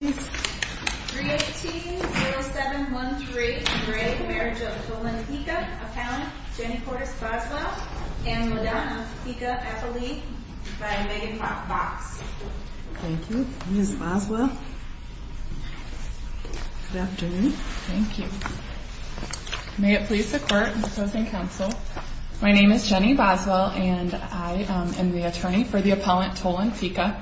318-07133 Marriage of Tolan Pica, Appellant Jenny Portis Boswell and Madonna Pica Appellee by Megan Fox. Thank you, Ms. Boswell. Good afternoon. Thank you. May it please the court and the opposing counsel, my name is Jenny Boswell and I am the attorney for the appellant Tolan Pica.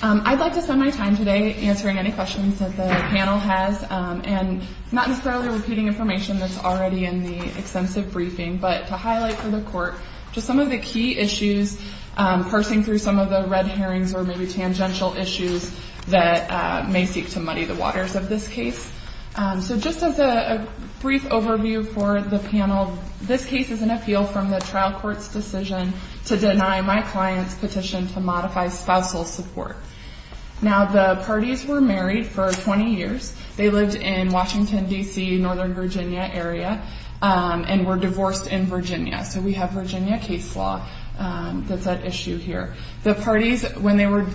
I'd like to spend my time today answering any questions that the panel has and not necessarily repeating information that's already in the extensive briefing, but to highlight for the court just some of the key issues parsing through some of the red herrings or maybe tangential issues that may seek to muddy the waters of this case. So just as a brief overview for the panel, this case is an appeal from the trial court's decision to deny my client's petition to modify spousal support. Now, the parties were married for 20 years. They lived in Washington, D.C., northern Virginia area and were divorced in Virginia. So we have Virginia case law that's at issue here. The parties, when they were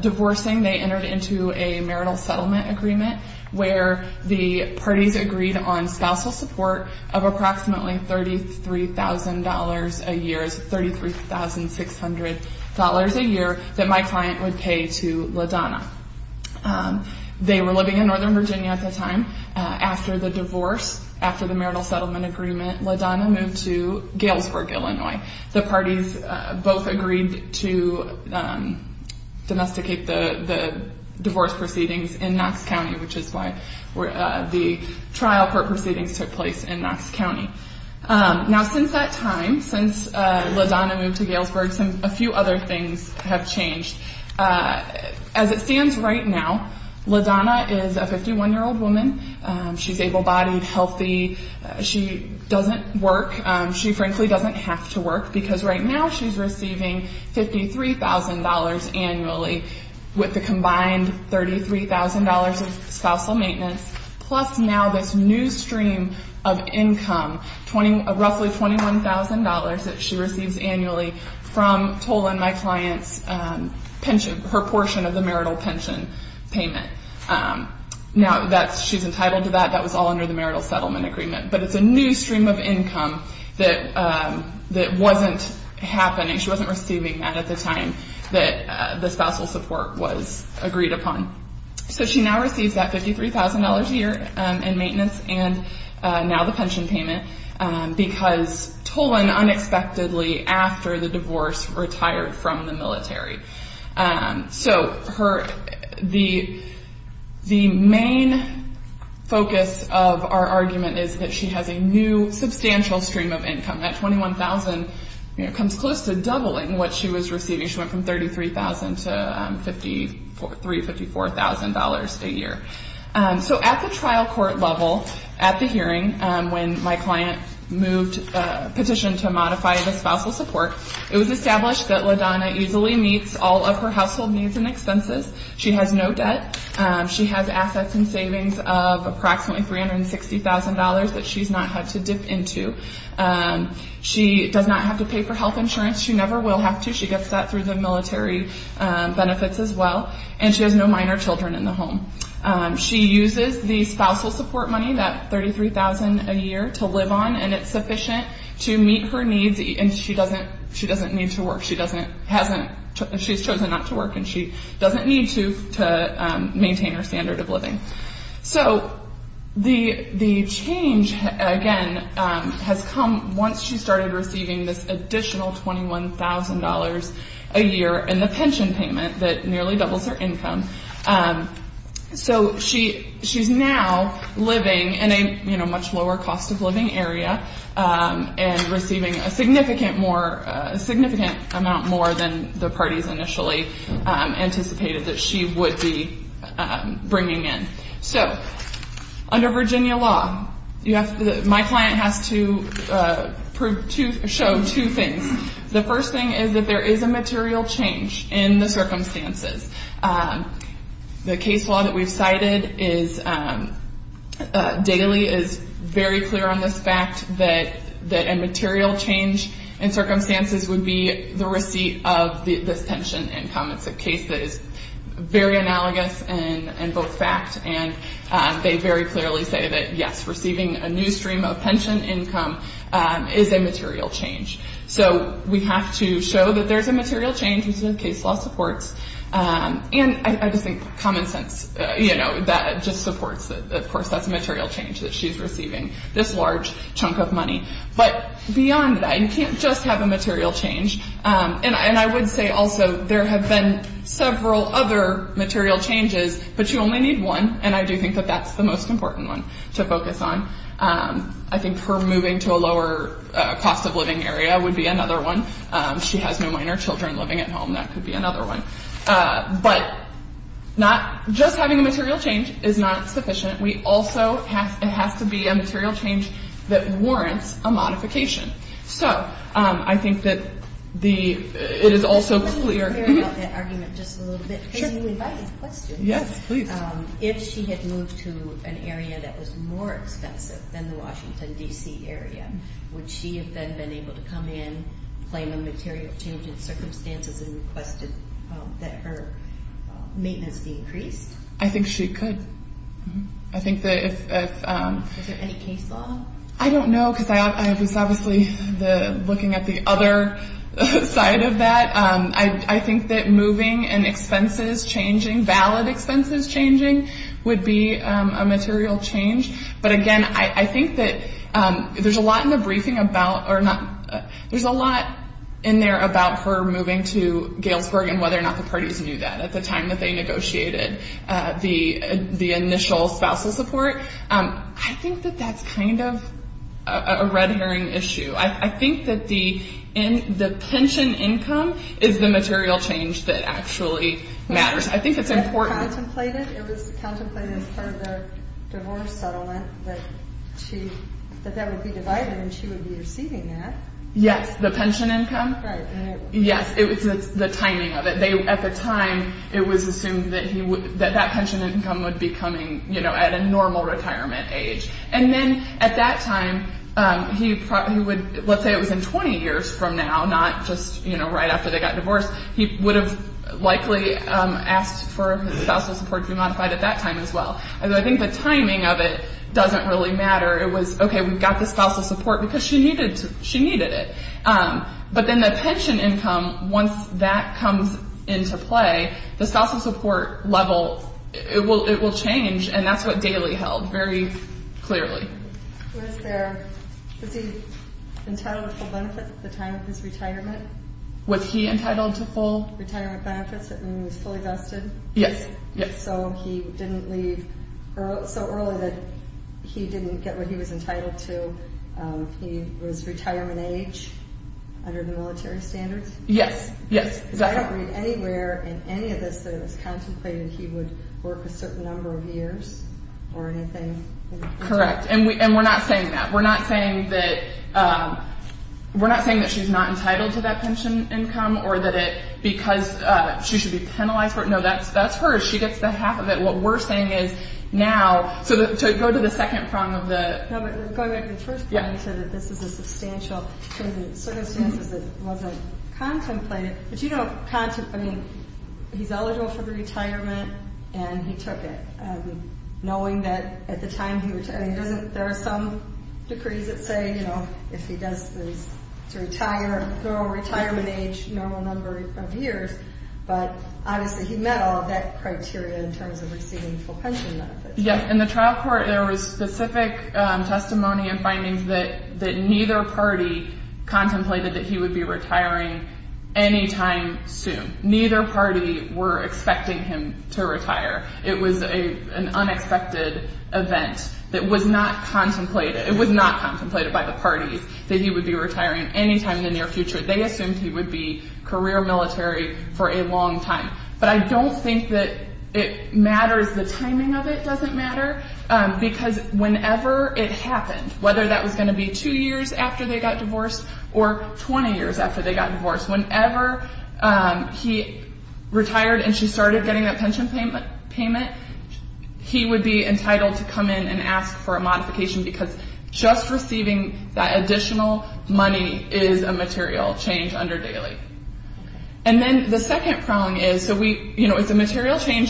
divorcing, they entered into a marital settlement agreement where the parties agreed on spousal support of approximately $33,000 a year, $33,600 a year that my client would pay to LaDonna. They were living in northern Virginia at the time. After the divorce, after the marital settlement agreement, LaDonna moved to Galesburg, Illinois. The parties both agreed to domesticate the divorce proceedings in Knox County, which is why the trial court proceedings took place in Knox County. Now, since that time, since LaDonna moved to Galesburg, a few other things have changed. As it stands right now, LaDonna is a 51-year-old woman. She's able-bodied, healthy. She doesn't work. She frankly doesn't have to work because right now she's receiving $53,000 annually with the combined $33,000 of spousal maintenance plus now this new stream of income, roughly $21,000 that she receives annually from tolling my she's entitled to that. That was all under the marital settlement agreement. But it's a new stream of income that wasn't happening. She wasn't receiving that at the time that the spousal support was agreed upon. So she now receives that $53,000 a year in maintenance and now the pension of our argument is that she has a new substantial stream of income. That $21,000 comes close to doubling what she was receiving. She went from $33,000 to $54,000 a year. So at the trial court level, at the hearing, when my client petitioned to modify the spousal support, it was established that LaDonna easily meets all of her household needs and expenses. She has no debt. She has assets and savings of approximately $360,000 that she's not had to dip into. She does not have to pay for health insurance. She never will have to. She gets that through the military benefits as well. And she has no minor children in the home. She uses the spousal support money, that $33,000 a year, to live on and it's sufficient to meet her work. She doesn't, hasn't, she's chosen not to work and she doesn't need to maintain her standard of living. So the change, again, has come once she started receiving this additional $21,000 a year in the pension payment that nearly doubles her income. So she, she's now living in a, you know, much lower cost of living area and receiving a significant more, a significant amount more than the parties initially anticipated that she would be bringing in. So under Virginia law, you have to, my client has to prove, show two things. The first thing is that there is a material change in the circumstances. The case law that we've cited is, daily is very clear on this fact that a material change in circumstances would be the receipt of this pension income. It's a case that is very analogous in both fact and they very clearly say that yes, you have to show that there's a material change, which the case law supports. And I just think common sense, you know, that just supports that, of course, that's a material change that she's receiving this large chunk of money. But beyond that, you can't just have a material change. And I would say also there have been several other material changes, but you only need one and I do think that that's the most important one to focus on. I think her moving to a lower cost of living area would be another one. She has no minor children living at home, that could be another one. But not, just having a material change is not sufficient. We also have, it has to be a material change that warrants a modification. So I think that the, it is also clear about that argument just a little bit. Sure. Because you invited questions. Yes, please. If she had moved to an area that was more expensive than the Washington, D.C. area, would she have then been able to come in, claim a material change in circumstances and request that her maintenance be increased? I think she could. I think that if... Is there any case law? I don't know because I was obviously looking at the other side of that. I think that moving and expenses changing, valid expenses changing, would be a material change. But again, I think that there's a lot in the briefing about, or not, there's a lot in there about her moving to Galesburg and whether or not the parties knew that at the time that they negotiated the initial spousal support. I think that that's kind of a red herring issue. I think that the pension income is the material change that actually matters. I think it's important. It was contemplated for the divorce settlement that that would be divided and she would be receiving that. Yes, the pension income would be coming at a normal retirement age. And then at that time, let's say it was in 20 years from now, not just right after they got divorced, he would have likely asked for his spousal support to be modified at that time as well. I think the timing of it doesn't really matter. It was okay, we've got the spousal support because she needed it. But then the pension income, once that comes into play, the spousal support level, it will change and that's what Daley held very clearly. Was he entitled to full benefits at the time of his retirement? Was he entitled to full retirement age under the military standards? Yes. I don't read anywhere in any of this that it was contemplated that he would work a certain number of years or anything. Correct. And we're not saying that. We're not saying that she's not entitled to that pension income or that because she should be going back to the first point, he said that this is a substantial circumstances that wasn't contemplated. But you don't contemplate, I mean, he's eligible for retirement and he took it, knowing that at the time he retired, there are some decrees that say, you know, if he does this to retire, throw a retirement age normal number of years. But obviously, he met all of that criteria in terms of receiving full pension benefits. Yes. In the trial court, there was specific testimony and findings that neither party contemplated that he would be retiring anytime soon. Neither party were expecting him to retire. It was an unexpected event that was not contemplated. It was not contemplated by the parties that he would be retiring anytime in the near future. They assumed he would be career military for a long time. But I don't think that it matters the timing of it doesn't matter because whenever it happened, whether that was going to be two years after they got divorced or 20 years after they got divorced, whenever he retired and she started getting that pension payment, he would be entitled to come in and ask for a modification because just receiving that additional money is a material change under daily. And then the second change is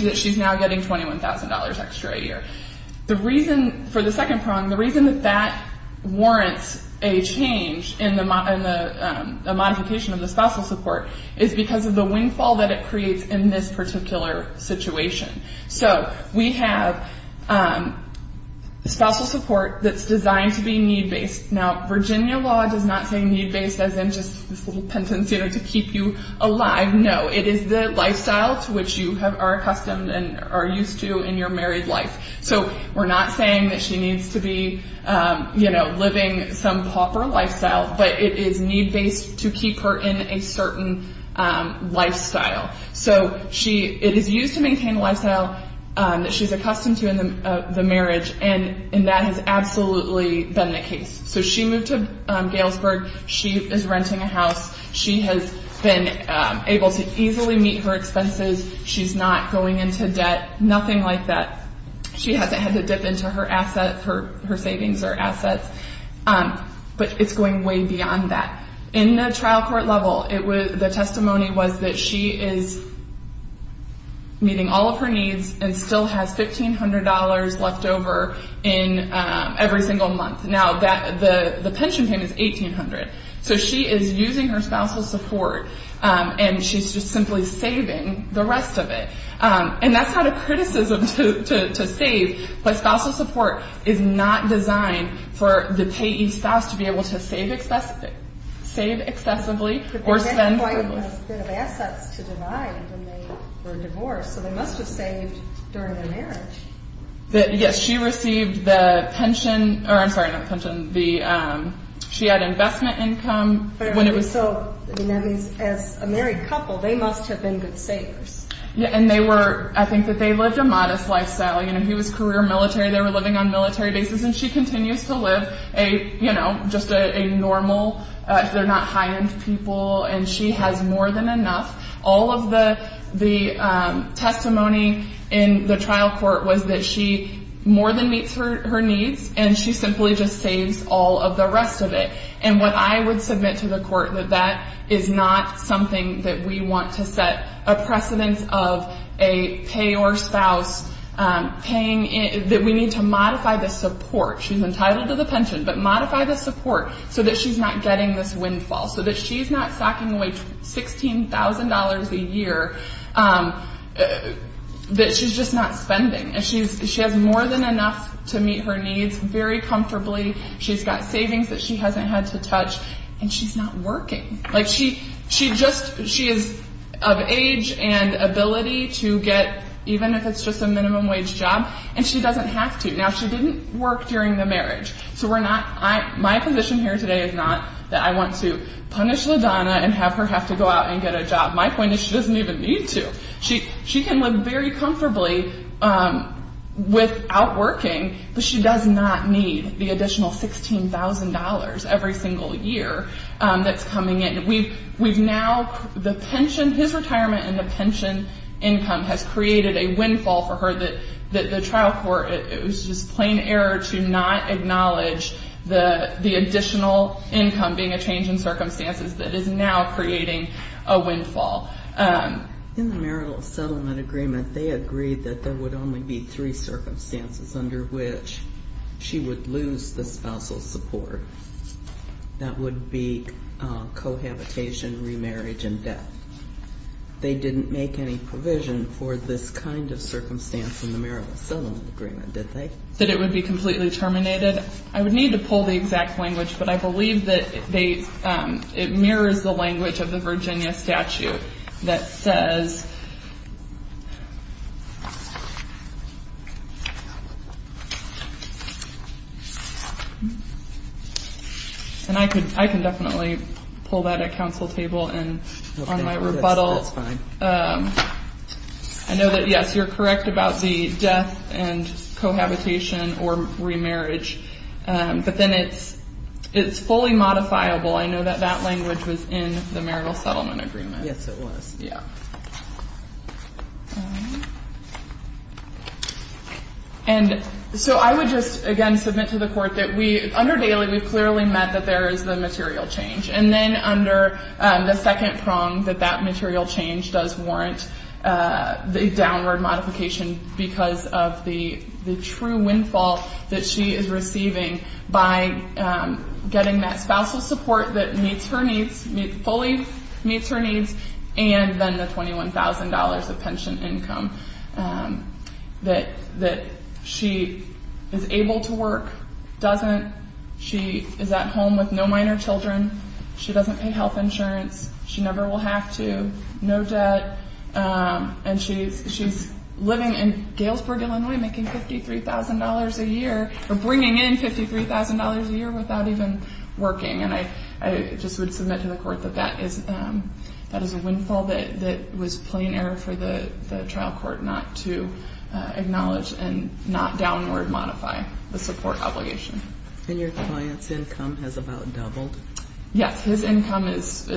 that she's now getting $21,000 extra a year. The reason for the second problem, the reason that that warrants a change in the modification of the spousal support is because of the windfall that it creates in this particular situation. So we have spousal support that's designed to be need-based. Now, Virginia law does not say need-based as in just this little penance to keep you alive. No, it is the lifestyle to which you are accustomed and are used to in your married life. So we're not saying that she needs to be living some pauper lifestyle, but it is need-based to keep her in a certain case. So she moved to Galesburg. She is renting a house. She has been able to easily meet her expenses. She's not going into debt, nothing like that. She hasn't had to dip into her assets, her savings or assets, but it's going way beyond that. In the trial court level, the testimony was that she is meeting all her needs and still has $1,500 left over every single month. Now, the pension payment is $1,800. So she is using her spousal support and she's just simply saving the rest of it. And that's not a criticism to save, but spousal support is not designed for the payee spouse to be able to save excessively or spend. But they had quite a bit of assets to divide when they were divorced, so they must have saved during their marriage. Yes, she received the pension, or I'm sorry, not the pension, she had investment income. So that means as a married couple, they must have been good savers. And they were, I think that they lived a more than enough. All of the testimony in the trial court was that she more than meets her needs and she simply just saves all of the rest of it. And what I would submit to the court, that that is not something that we want to set a precedence of a payor spouse paying, that we need to modify the support. She's entitled to not stocking away $16,000 a year that she's just not spending. She has more than enough to meet her needs very comfortably. She's got savings that she hasn't had to touch, and she's not working. She is of age and ability to get, even if it's just a minimum wage job, and she doesn't have to. Now, she didn't work during the marriage. So we're not, my position here today is not that I want to punish LaDonna and have her have to go out and get a job. My point is she doesn't even need to. She can live very comfortably without working, but she does not need the additional $16,000 every single year that's coming in. We've now, the pension, his retirement and the pension income has created a windfall for her that the trial court, it was just plain error to not acknowledge the additional income being a change in circumstances that is now creating a windfall. In the marital settlement agreement, they agreed that there would only be three circumstances under which she would lose the spousal support. That would be cohabitation, remarriage and death. They didn't make any provision for this kind of circumstance in the marital settlement agreement, did they? That it would be completely terminated. I would need to pull the exact language, but I believe that it mirrors the language of the Virginia statute that says And I can definitely pull that at council table and on my rebuttal. I know that yes, you're correct about the death and cohabitation or remarriage, but then it's fully modifiable. I know that that language was in the marital settlement agreement. Yes, it was. Yeah. And so I would just again submit to the court that we, under daily, we've clearly met that there is the material change. And then under the second prong, that that material change does warrant the downward modification because of the true windfall that she is receiving by getting that spousal support that meets her needs, fully meets her needs, and then the $21,000 of pension income that she is doesn't. She is at home with no minor children. She doesn't pay health insurance. She never will have to. No debt. And she's living in Galesburg, Illinois, making $53,000 a year or bringing in $53,000 a year without even working. And I just would submit to the court that that is a windfall that was plain error for the trial court not to acknowledge and not downward modify the support obligation. And your client's income has about doubled? Yes. His income is,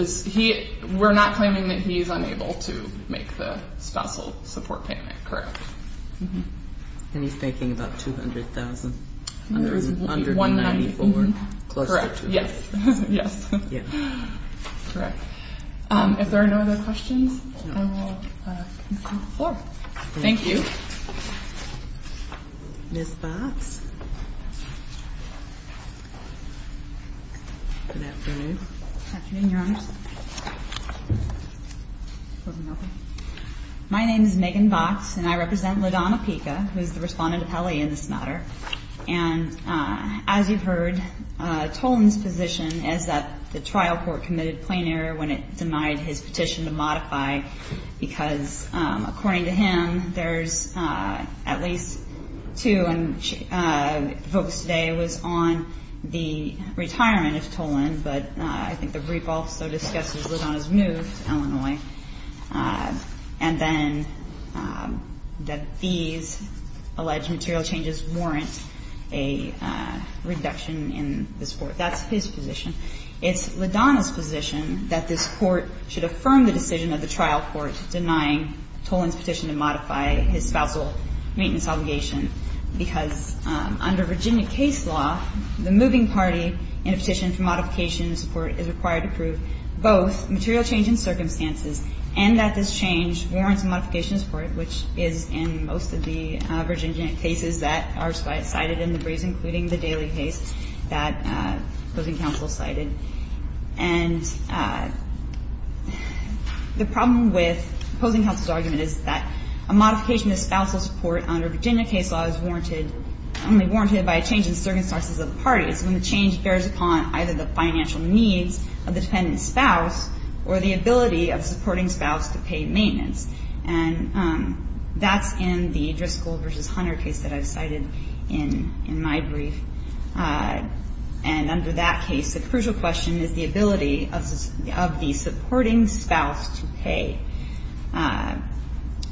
we're not claiming that he's unable to make the spousal support payment, correct? And he's making about $200,000. Under $194,000. Correct. Yes. Yes. Correct. If there are no other questions, I will conclude the floor. Thank you. Ms. Box. Good afternoon. Good afternoon, Your Honors. My name is Megan Box, and I represent LaDonna Pica, who is the I think the brief also discusses LaDonna's move to Illinois, and then that these alleged material changes warrant a reduction in the support. That's his position. It's LaDonna's position that this Court should affirm the decision of the trial court denying Toland's petition to modify his spousal maintenance obligation, because under Virginia case law, the moving party in a petition for modification of support is required to prove both material change in circumstances and that this change warrants a modification of support, which is in most of the Virginia cases that are cited in the briefs, including the Daly case that opposing counsel cited. And the problem with opposing counsel's argument is that a modification of spousal support under Virginia case law is warranted, only warranted by a change in circumstances of the parties, and the change bears upon either the financial needs of the dependent spouse or the ability of supporting spouse to pay maintenance. And that's in the Driscoll v. Hunter case that I've cited in my brief. And under that case, the crucial question is the ability of the supporting spouse to pay.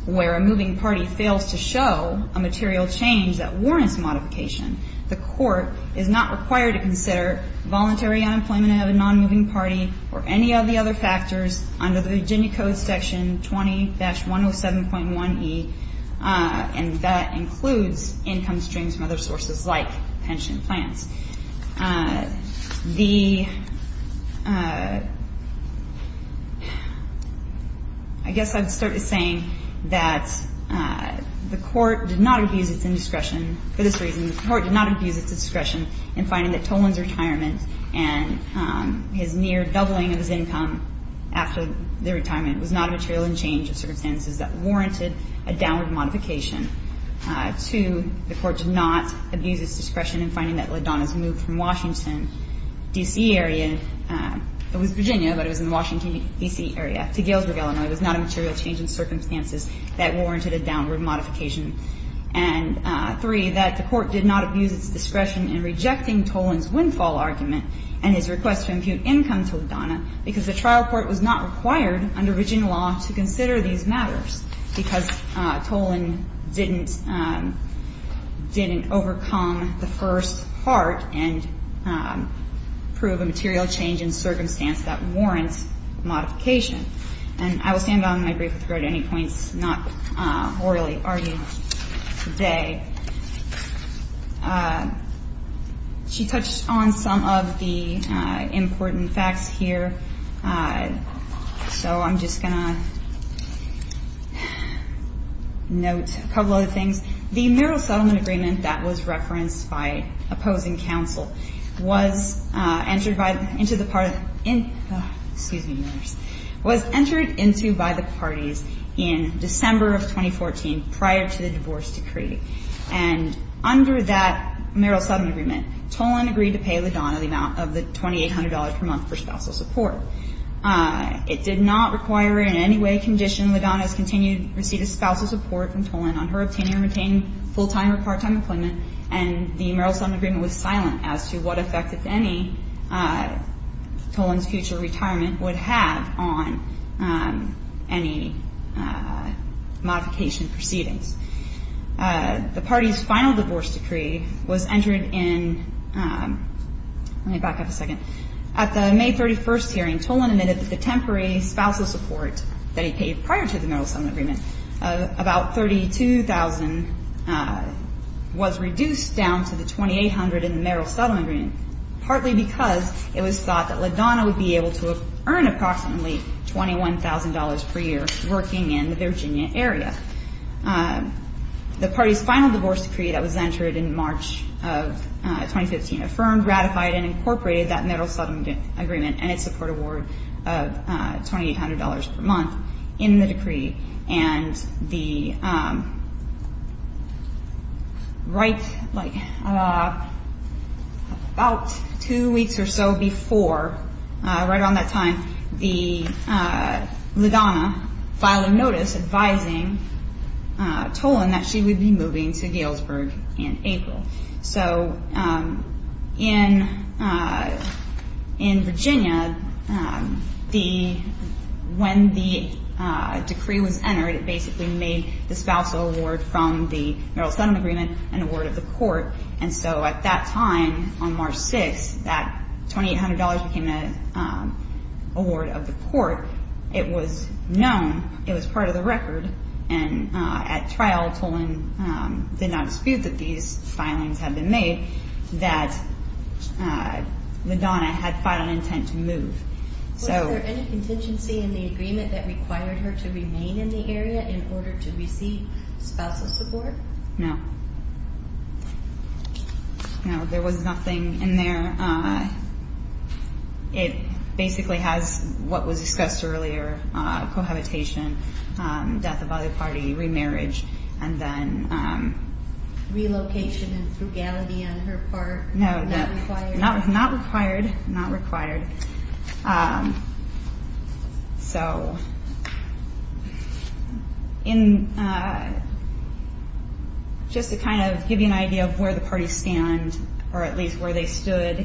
Where a moving party fails to show a material change that warrants modification, the Court is not required to consider voluntary unemployment of a non-moving party or any of the other factors under the Virginia Code Section 20-107.1e, and that includes income streams from other sources like pension plans. The – I guess I'd start by saying that the Court did not abuse its indiscretion for this reason. The Court did not abuse its discretion in finding that Toland's retirement and his near doubling of his income after the retirement was not a material change of circumstances that warranted a downward modification. Two, the Court did not abuse its discretion in finding that LaDonna's move from Washington, D.C. area – it was Virginia, but it was in the Washington, D.C. area – to Galesburg, Illinois was not a material change in circumstances that warranted a downward modification. And three, that the Court did not abuse its discretion in rejecting Toland's windfall argument and his request to impute income to LaDonna because the trial court was not required under Virginia law to consider these matters because Toland didn't – didn't overcome the first part and prove a material change in circumstance that warrants modification. And I will stand on my brief with regard to any points not orally argued today. She touched on some of the important facts here. So I'm just going to note a couple other things. The mural settlement agreement that was referenced by opposing counsel was entered by the parties in December of 2014 prior to the divorce decree. And under that mural settlement agreement, Toland agreed to pay LaDonna the amount of the $2,800 per month for spousal support. It did not require in any way condition LaDonna's continued receipt of spousal support from Toland on her obtaining or retaining full-time or part-time employment, and the mural settlement agreement was silent as to what effect, if any, Toland's future retirement would have on any modification proceedings. The party's final divorce decree was entered in – let me back up a second. At the May 31st hearing, Toland admitted that the temporary spousal support that he received was reduced down to the $2,800 in the mural settlement agreement, partly because it was thought that LaDonna would be able to earn approximately $21,000 per year working in the Virginia area. The party's final divorce decree that was entered in March of 2015 affirmed, ratified, and incorporated that mural settlement agreement and its support award of $2,800 per month in the decree. And the – right, like, about two weeks or so before, right around that time, LaDonna filed a notice advising Toland that she would be moving to Galesburg in April. So in Virginia, the – when the decree was entered, it basically made the spousal award from the mural settlement agreement an award of the court. And so at that time, on March 6th, that $2,800 became an award of the court. It was known, it was part of the record, and at trial Toland did not dispute that these filings had been made, that LaDonna had final intent to move. So – Was there any contingency in the agreement that required her to remain in the area in order to receive spousal support? No. No, there was nothing in there. It basically has what was discussed earlier, cohabitation, death of other party, remarriage, and then – Relocation and frugality on her part, not required? Not required, not required. So in – just to kind of give you an idea of where the parties stand, or at least where they stood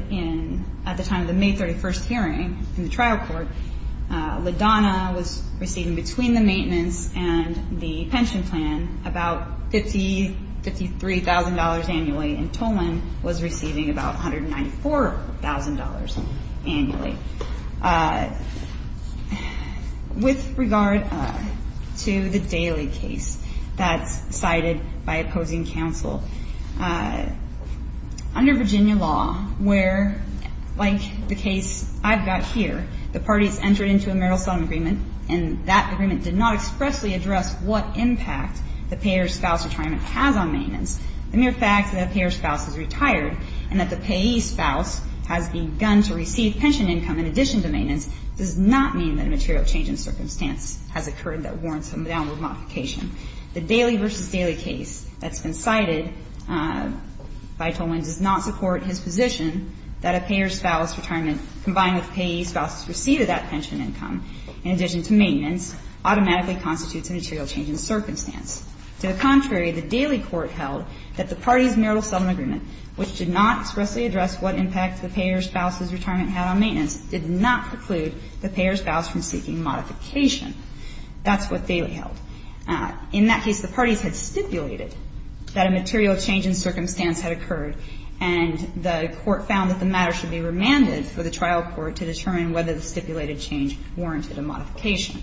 at the time of the May 31st hearing in the trial court, LaDonna was receiving between the maintenance and the pension plan about $53,000 annually, and Toland was receiving about $194,000 annually. With regard to the Daly case that's cited by opposing counsel, under Virginia law, where, like the case I've got here, the parties entered into a marital sodom agreement, and that agreement did not expressly address what impact the payer's spouse retirement has on maintenance. The mere fact that a payer's spouse is retired and that the payee's spouse has begun to receive pension income in addition to maintenance does not mean that a material change in circumstance has occurred that warrants some downward modification. The Daly v. Daly case that's been cited by Toland does not support his position that a payer's spouse retirement combined with payee's spouse's receipt of that pension income in addition to maintenance automatically constitutes a material change in circumstance. To the contrary, the Daly court held that the parties' marital sodom agreement, which did not expressly address what impact the payer's spouse's retirement had on maintenance, did not preclude the payer's spouse from seeking modification. That's what Daly held. In that case, the parties had stipulated that a material change in circumstance had occurred, and the court found that the matter should be remanded for the trial court to determine whether the stipulated change warranted a modification.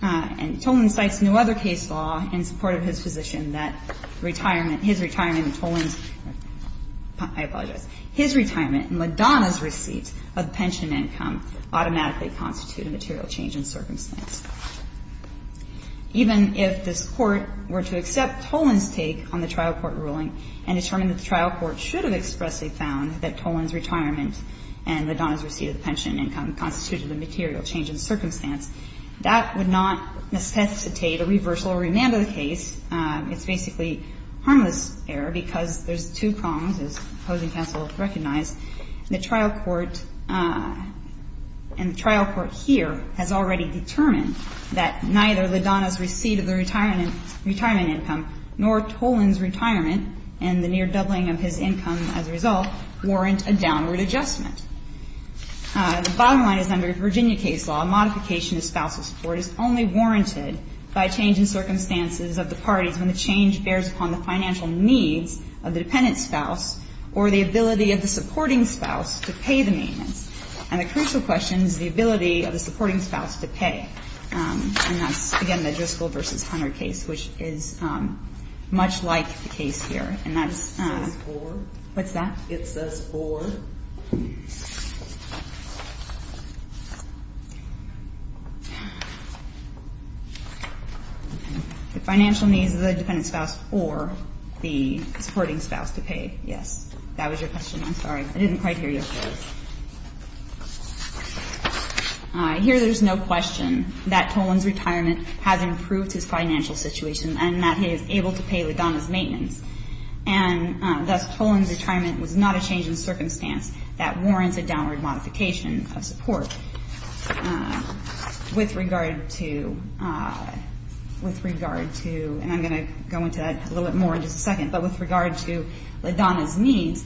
And Toland cites no other case law in support of his position that retirement – his retirement and Toland's – I apologize. His retirement and LaDonna's receipt of pension income automatically constitute a material change in circumstance. Even if this Court were to accept Toland's take on the trial court ruling and determine that the trial court should have expressly found that Toland's retirement and LaDonna's receipt of pension income constituted a material change in circumstance, that would not necessitate a reversal or remand of the case. It's basically harmless error because there's two prongs, as opposing counsel recognized, and the trial court here has already determined that neither LaDonna's receipt of the retirement income nor Toland's retirement and the near doubling of his income as a result warrant a downward adjustment. The bottom line is under Virginia case law, modification of spousal support is only warranted by change in circumstances of the parties when the change bears upon the financial needs of the dependent spouse or the ability of the supporting spouse to pay the maintenance. And the crucial question is the ability of the supporting spouse to pay. And that's, again, the Driscoll v. Hunter case, which is much like the case here. And that's, what's that? It says or. The financial needs of the dependent spouse or the supporting spouse to pay. Yes. That was your question. I'm sorry. I didn't quite hear you. Here there's no question that Toland's retirement has improved his financial situation and that he is able to pay LaDonna's maintenance. And thus Toland's retirement was not a change in circumstance that warrants a downward modification of support. With regard to, with regard to, and I'm going to go into that a little bit more in just a second, but with regard to LaDonna's needs,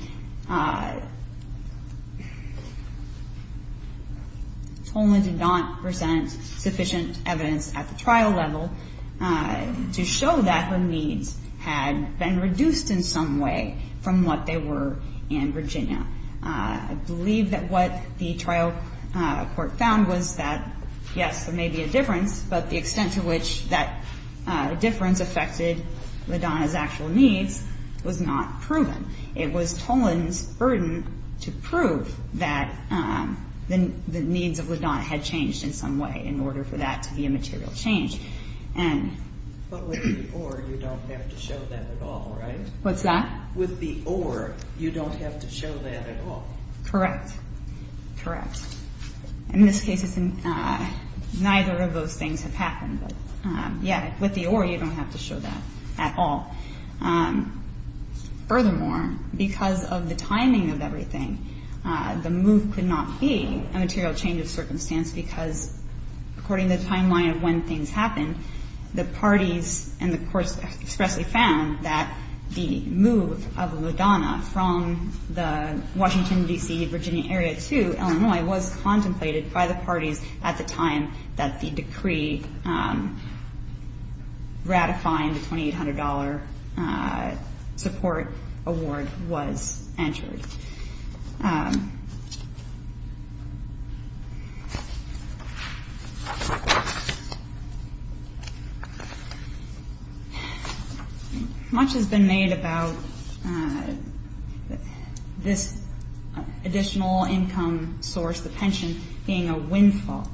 Toland did not present sufficient evidence at the trial level to show that her needs had been reduced in some way from what they were in Virginia. I believe that what the trial court found was that, yes, there may be a difference, but the extent to which that difference affected LaDonna's actual needs was not proven. It was Toland's burden to prove that the needs of LaDonna had changed in some way in order for that to be a material change. But with the or, you don't have to show that at all, right? What's that? With the or, you don't have to show that at all. Correct. Correct. In this case, neither of those things have happened. But, yeah, with the or, you don't have to show that at all. Furthermore, because of the timing of everything, the move could not be a material change of circumstance because, according to the timeline of when things happened, the parties and the courts expressly found that the move of LaDonna from the Washington, D.C., Virginia area to Illinois was contemplated by the parties at the time that the decree ratifying the $2,800 support award was entered. Thank you. Much has been made about this additional income source, the pension, being a windfall.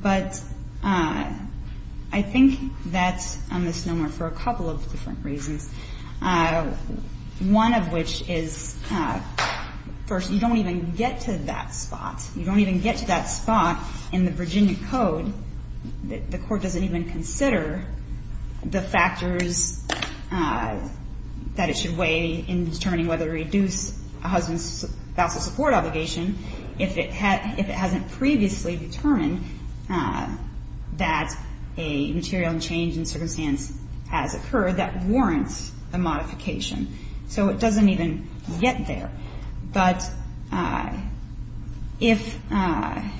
But I think that's a misnomer for a couple of different reasons, one of which is that first, you don't even get to that spot. You don't even get to that spot in the Virginia code. The court doesn't even consider the factors that it should weigh in determining whether to reduce a husband's vassal support obligation if it hasn't previously determined that a material change in circumstance has occurred that warrants a modification. So it doesn't even get there. But if the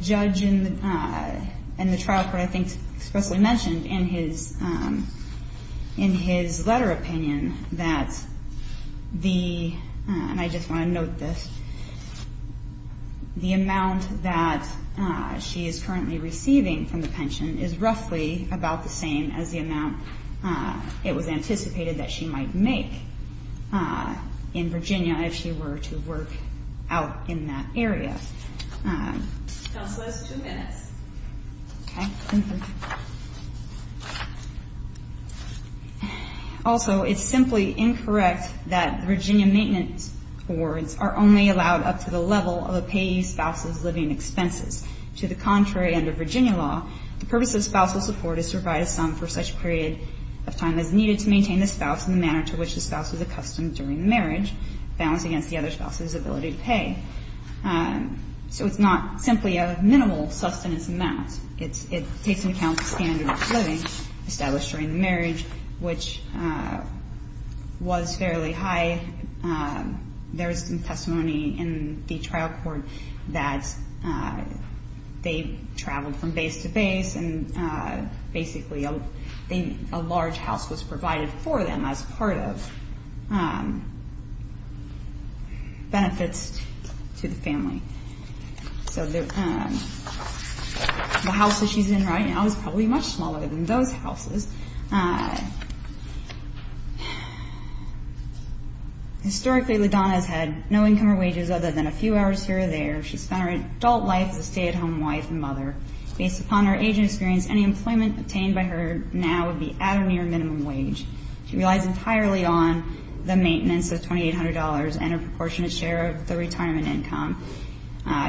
judge and the trial court, I think, expressly mentioned in his letter opinion that the, and I just want to note this, the amount that she is currently receiving from the pension is roughly about the same as the amount it was anticipated that she might make in Virginia if she were to work out in that area. Counselors, two minutes. Also, it's simply incorrect that Virginia maintenance awards are only allowed up to the level of a payee's spouse's living expenses. To the contrary, under Virginia law, the purpose of spousal support is to provide a sum for such period of time as needed to maintain the spouse in the manner to which the spouse is accustomed during the marriage, balanced against the other spouse's ability to pay. So it's not simply a minimal sustenance amount. It takes into account the standard of living established during the marriage, which was fairly high. There is some testimony in the trial court that they traveled from base to base and basically a large house was provided for them as part of benefits to the family. So the house that she's in right now is probably much smaller than those houses. Historically, LaDonna has had no income or wages other than a few hours here or there. She spent her adult life as a stay-at-home wife and mother. Based upon her aging experience, any employment obtained by her now would be at or near minimum wage. She relies entirely on the maintenance of $2,800 and a proportionate share of the retirement income,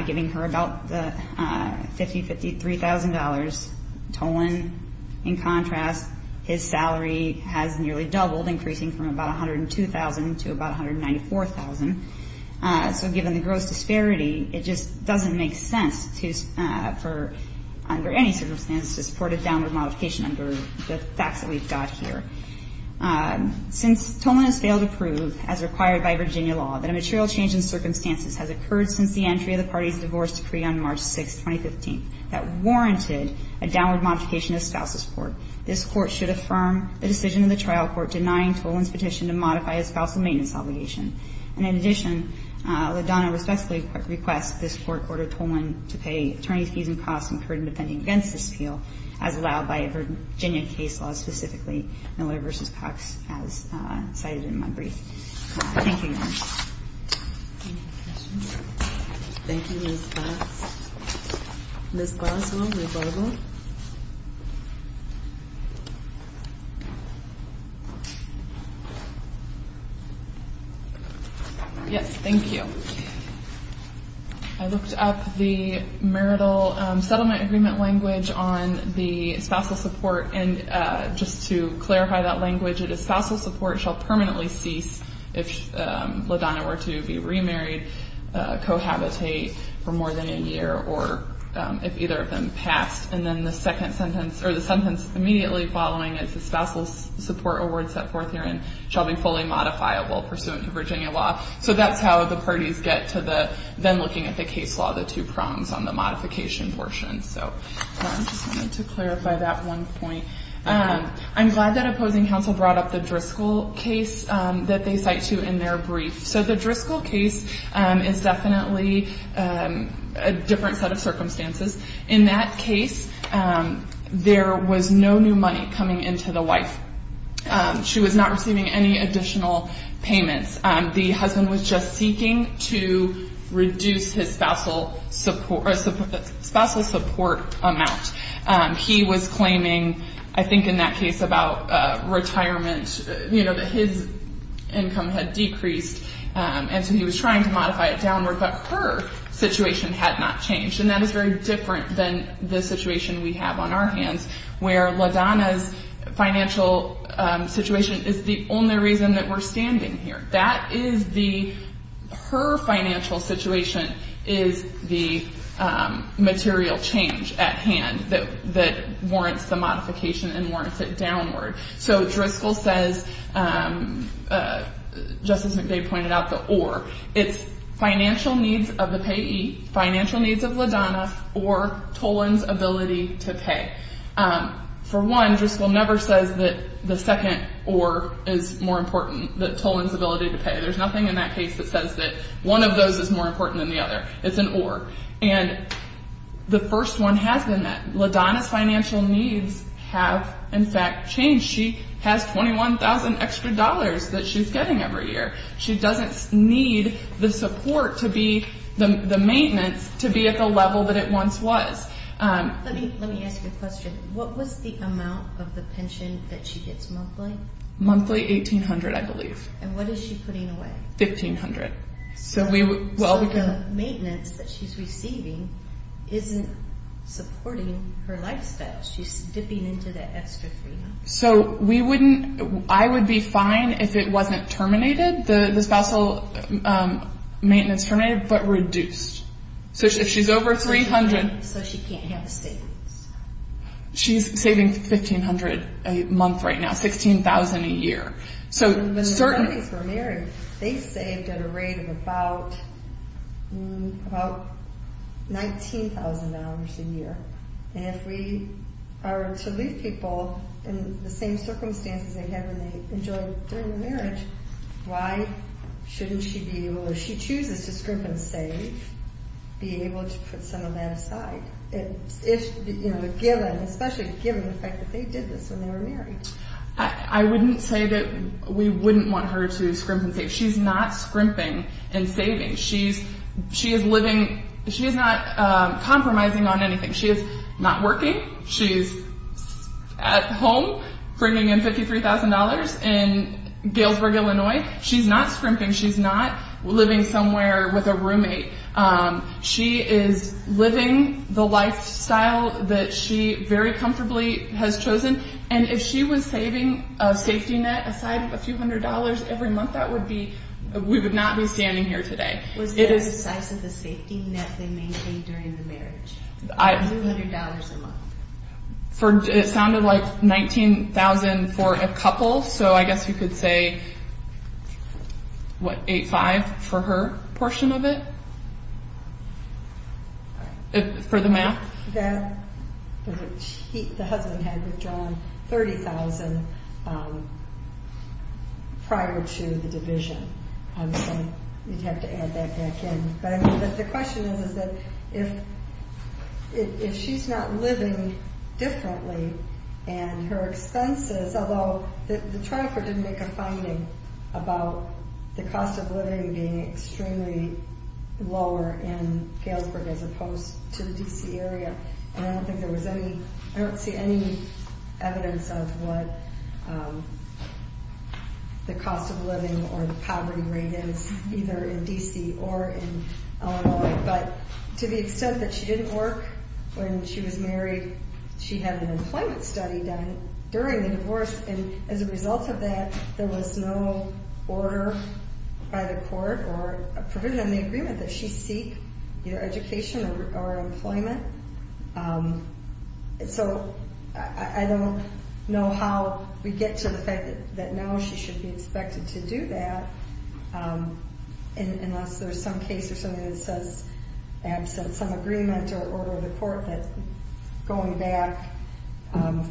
giving her about the $50,000, $53,000. Tolan, in contrast, his salary has nearly doubled, increasing from about $102,000 to about $194,000. So given the gross disparity, it just doesn't make sense to, under any circumstances, to support a downward modification under the facts that we've got here. Since Tolan has failed to prove, as required by Virginia law, that a material change in circumstances has occurred since the entry of the party's divorce decree on March 6, 2015, that warranted a downward modification of spousal support, this Court should And in addition, LaDonna respectfully requests this Court order Tolan to pay attorney's fees and costs incurred in defending against this appeal, as allowed by Virginia case law specifically, Miller v. Cox, as cited in my brief. Thank you, Your Honor. Any questions? Thank you, Ms. Glass. Ms. Glass, will you rebuttal? Yes, thank you. I looked up the marital settlement agreement language on the spousal support, and just to clarify that language, it is spousal support shall permanently cease if LaDonna were to be remarried, cohabitate for more than a year, or if either of them passed. And then the second sentence, or the sentence immediately following it, the spousal support award set forth herein shall be fully modifiable pursuant to Virginia law. So that's how the parties get to then looking at the case law, the two prongs on the modification portion. So I just wanted to clarify that one point. I'm glad that opposing counsel brought up the Driscoll case that they cite to in their brief. So the Driscoll case is definitely a different set of circumstances. In that case, there was no new money coming into the wife. She was not receiving any additional payments. The husband was just seeking to reduce his spousal support amount. He was claiming, I think in that case about retirement, you know, that his income had decreased, and so he was trying to modify it downward, but her situation had not changed. And that is very different than the situation we have on our hands, where LaDonna's financial situation is the only reason that we're standing here. That is the, her financial situation is the material change at hand that warrants the modification and warrants it downward. So Driscoll says, Justice McVeigh pointed out the or. It's financial needs of the payee, financial needs of LaDonna, or Toland's ability to pay. For one, Driscoll never says that the second or is more important, that Toland's ability to pay. There's nothing in that case that says that one of those is more important than the other. It's an or. And the first one has been that. LaDonna's financial needs have, in fact, changed. She has $21,000 extra dollars that she's getting every year. She doesn't need the support to be, the maintenance to be at the level that it once was. Let me ask you a question. What was the amount of the pension that she gets monthly? Monthly, $1,800, I believe. And what is she putting away? $1,500. So the maintenance that she's receiving isn't supporting her lifestyle. She's dipping into that extra $300. So we wouldn't, I would be fine if it wasn't terminated, the spousal maintenance terminated, but reduced. So if she's over $300. So she can't have savings. She's saving $1,500 a month right now, $16,000 a year. So certain. When the two of these were married, they saved at a rate of about $19,000 a year. And if we are to leave people in the same circumstances they had when they enjoyed during the marriage, why shouldn't she be able, if she chooses to scrimp and save, be able to put some of that aside? Especially given the fact that they did this when they were married. I wouldn't say that we wouldn't want her to scrimp and save. She's not scrimping and saving. She is living, she is not compromising on anything. She is not working. She's at home bringing in $53,000 in Galesburg, Illinois. She's not scrimping. She's not living somewhere with a roommate. She is living the lifestyle that she very comfortably has chosen. And if she was saving a safety net aside of a few hundred dollars every month, that would be, we would not be standing here today. Was that the size of the safety net they maintained during the marriage? A few hundred dollars a month? It sounded like $19,000 for a couple, so I guess you could say, what, $8,500 for her portion of it? For the math? The husband had withdrawn $30,000 prior to the division. You'd have to add that back in. But the question is, is that if she's not living differently and her expenses, although the trial court didn't make a finding about the cost of living being extremely lower in Galesburg as opposed to the D.C. area, and I don't think there was any, I don't see any evidence of what the cost of living or the poverty rate is either in D.C. or in Illinois, but to the extent that she didn't work when she was married, she had an employment study done during the divorce, and as a result of that, there was no order by the court or provision in the agreement that she seek either education or employment. So I don't know how we get to the fact that now she should be expected to do that, unless there's some case or something that says absent some agreement or order of the court that going back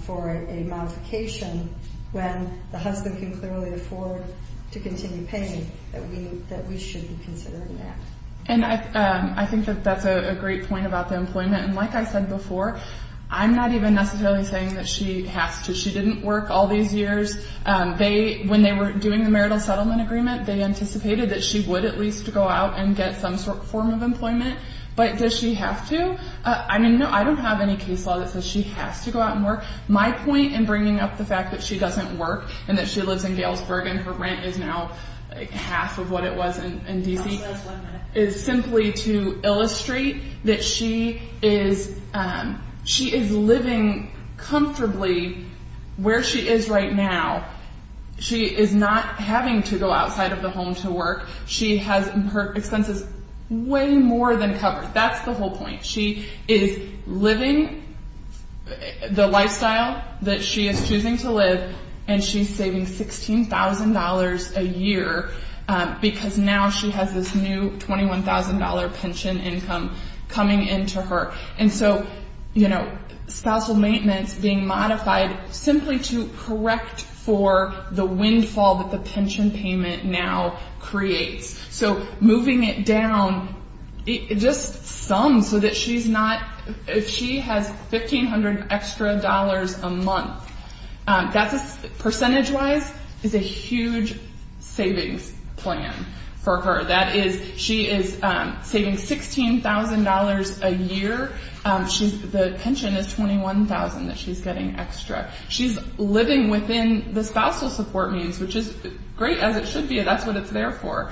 for a modification when the husband can clearly afford to continue paying, that we should be considering that. And I think that that's a great point about the employment, and like I said before, I'm not even necessarily saying that she has to. She didn't work all these years. When they were doing the marital settlement agreement, they anticipated that she would at least go out and get some form of employment, but does she have to? I mean, no, I don't have any case law that says she has to go out and work. My point in bringing up the fact that she doesn't work and that she lives in Galesburg and her rent is now half of what it was in D.C. is simply to illustrate that she is living comfortably where she is right now. She is not having to go outside of the home to work. She has her expenses way more than covered. That's the whole point. She is living the lifestyle that she is choosing to live, and she's saving $16,000 a year because now she has this new $21,000 pension income coming into her. And so, you know, spousal maintenance being modified simply to correct for the windfall that the pension payment now creates. So moving it down just some so that she has $1,500 extra a month. Percentage-wise, it's a huge savings plan for her. She is saving $16,000 a year. The pension is $21,000 that she's getting extra. She's living within the spousal support means, which is great as it should be. That's what it's there for.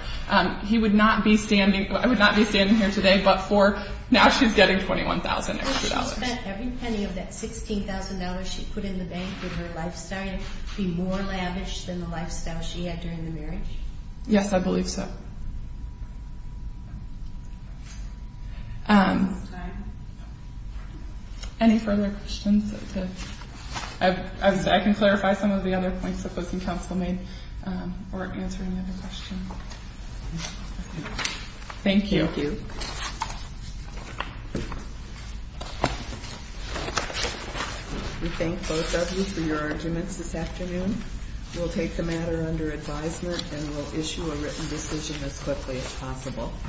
He would not be standing here today but for now she's getting $21,000 extra. Does she expect every penny of that $16,000 she put in the bank with her lifestyle to be more lavish than the lifestyle she had during the marriage? Yes, I believe so. Any further questions? I can clarify some of the other points that both the Council made or answer any other questions. Thank you. Thank you. We thank both of you for your arguments this afternoon. We'll take the matter under advisement and we'll issue a written decision as quickly as possible.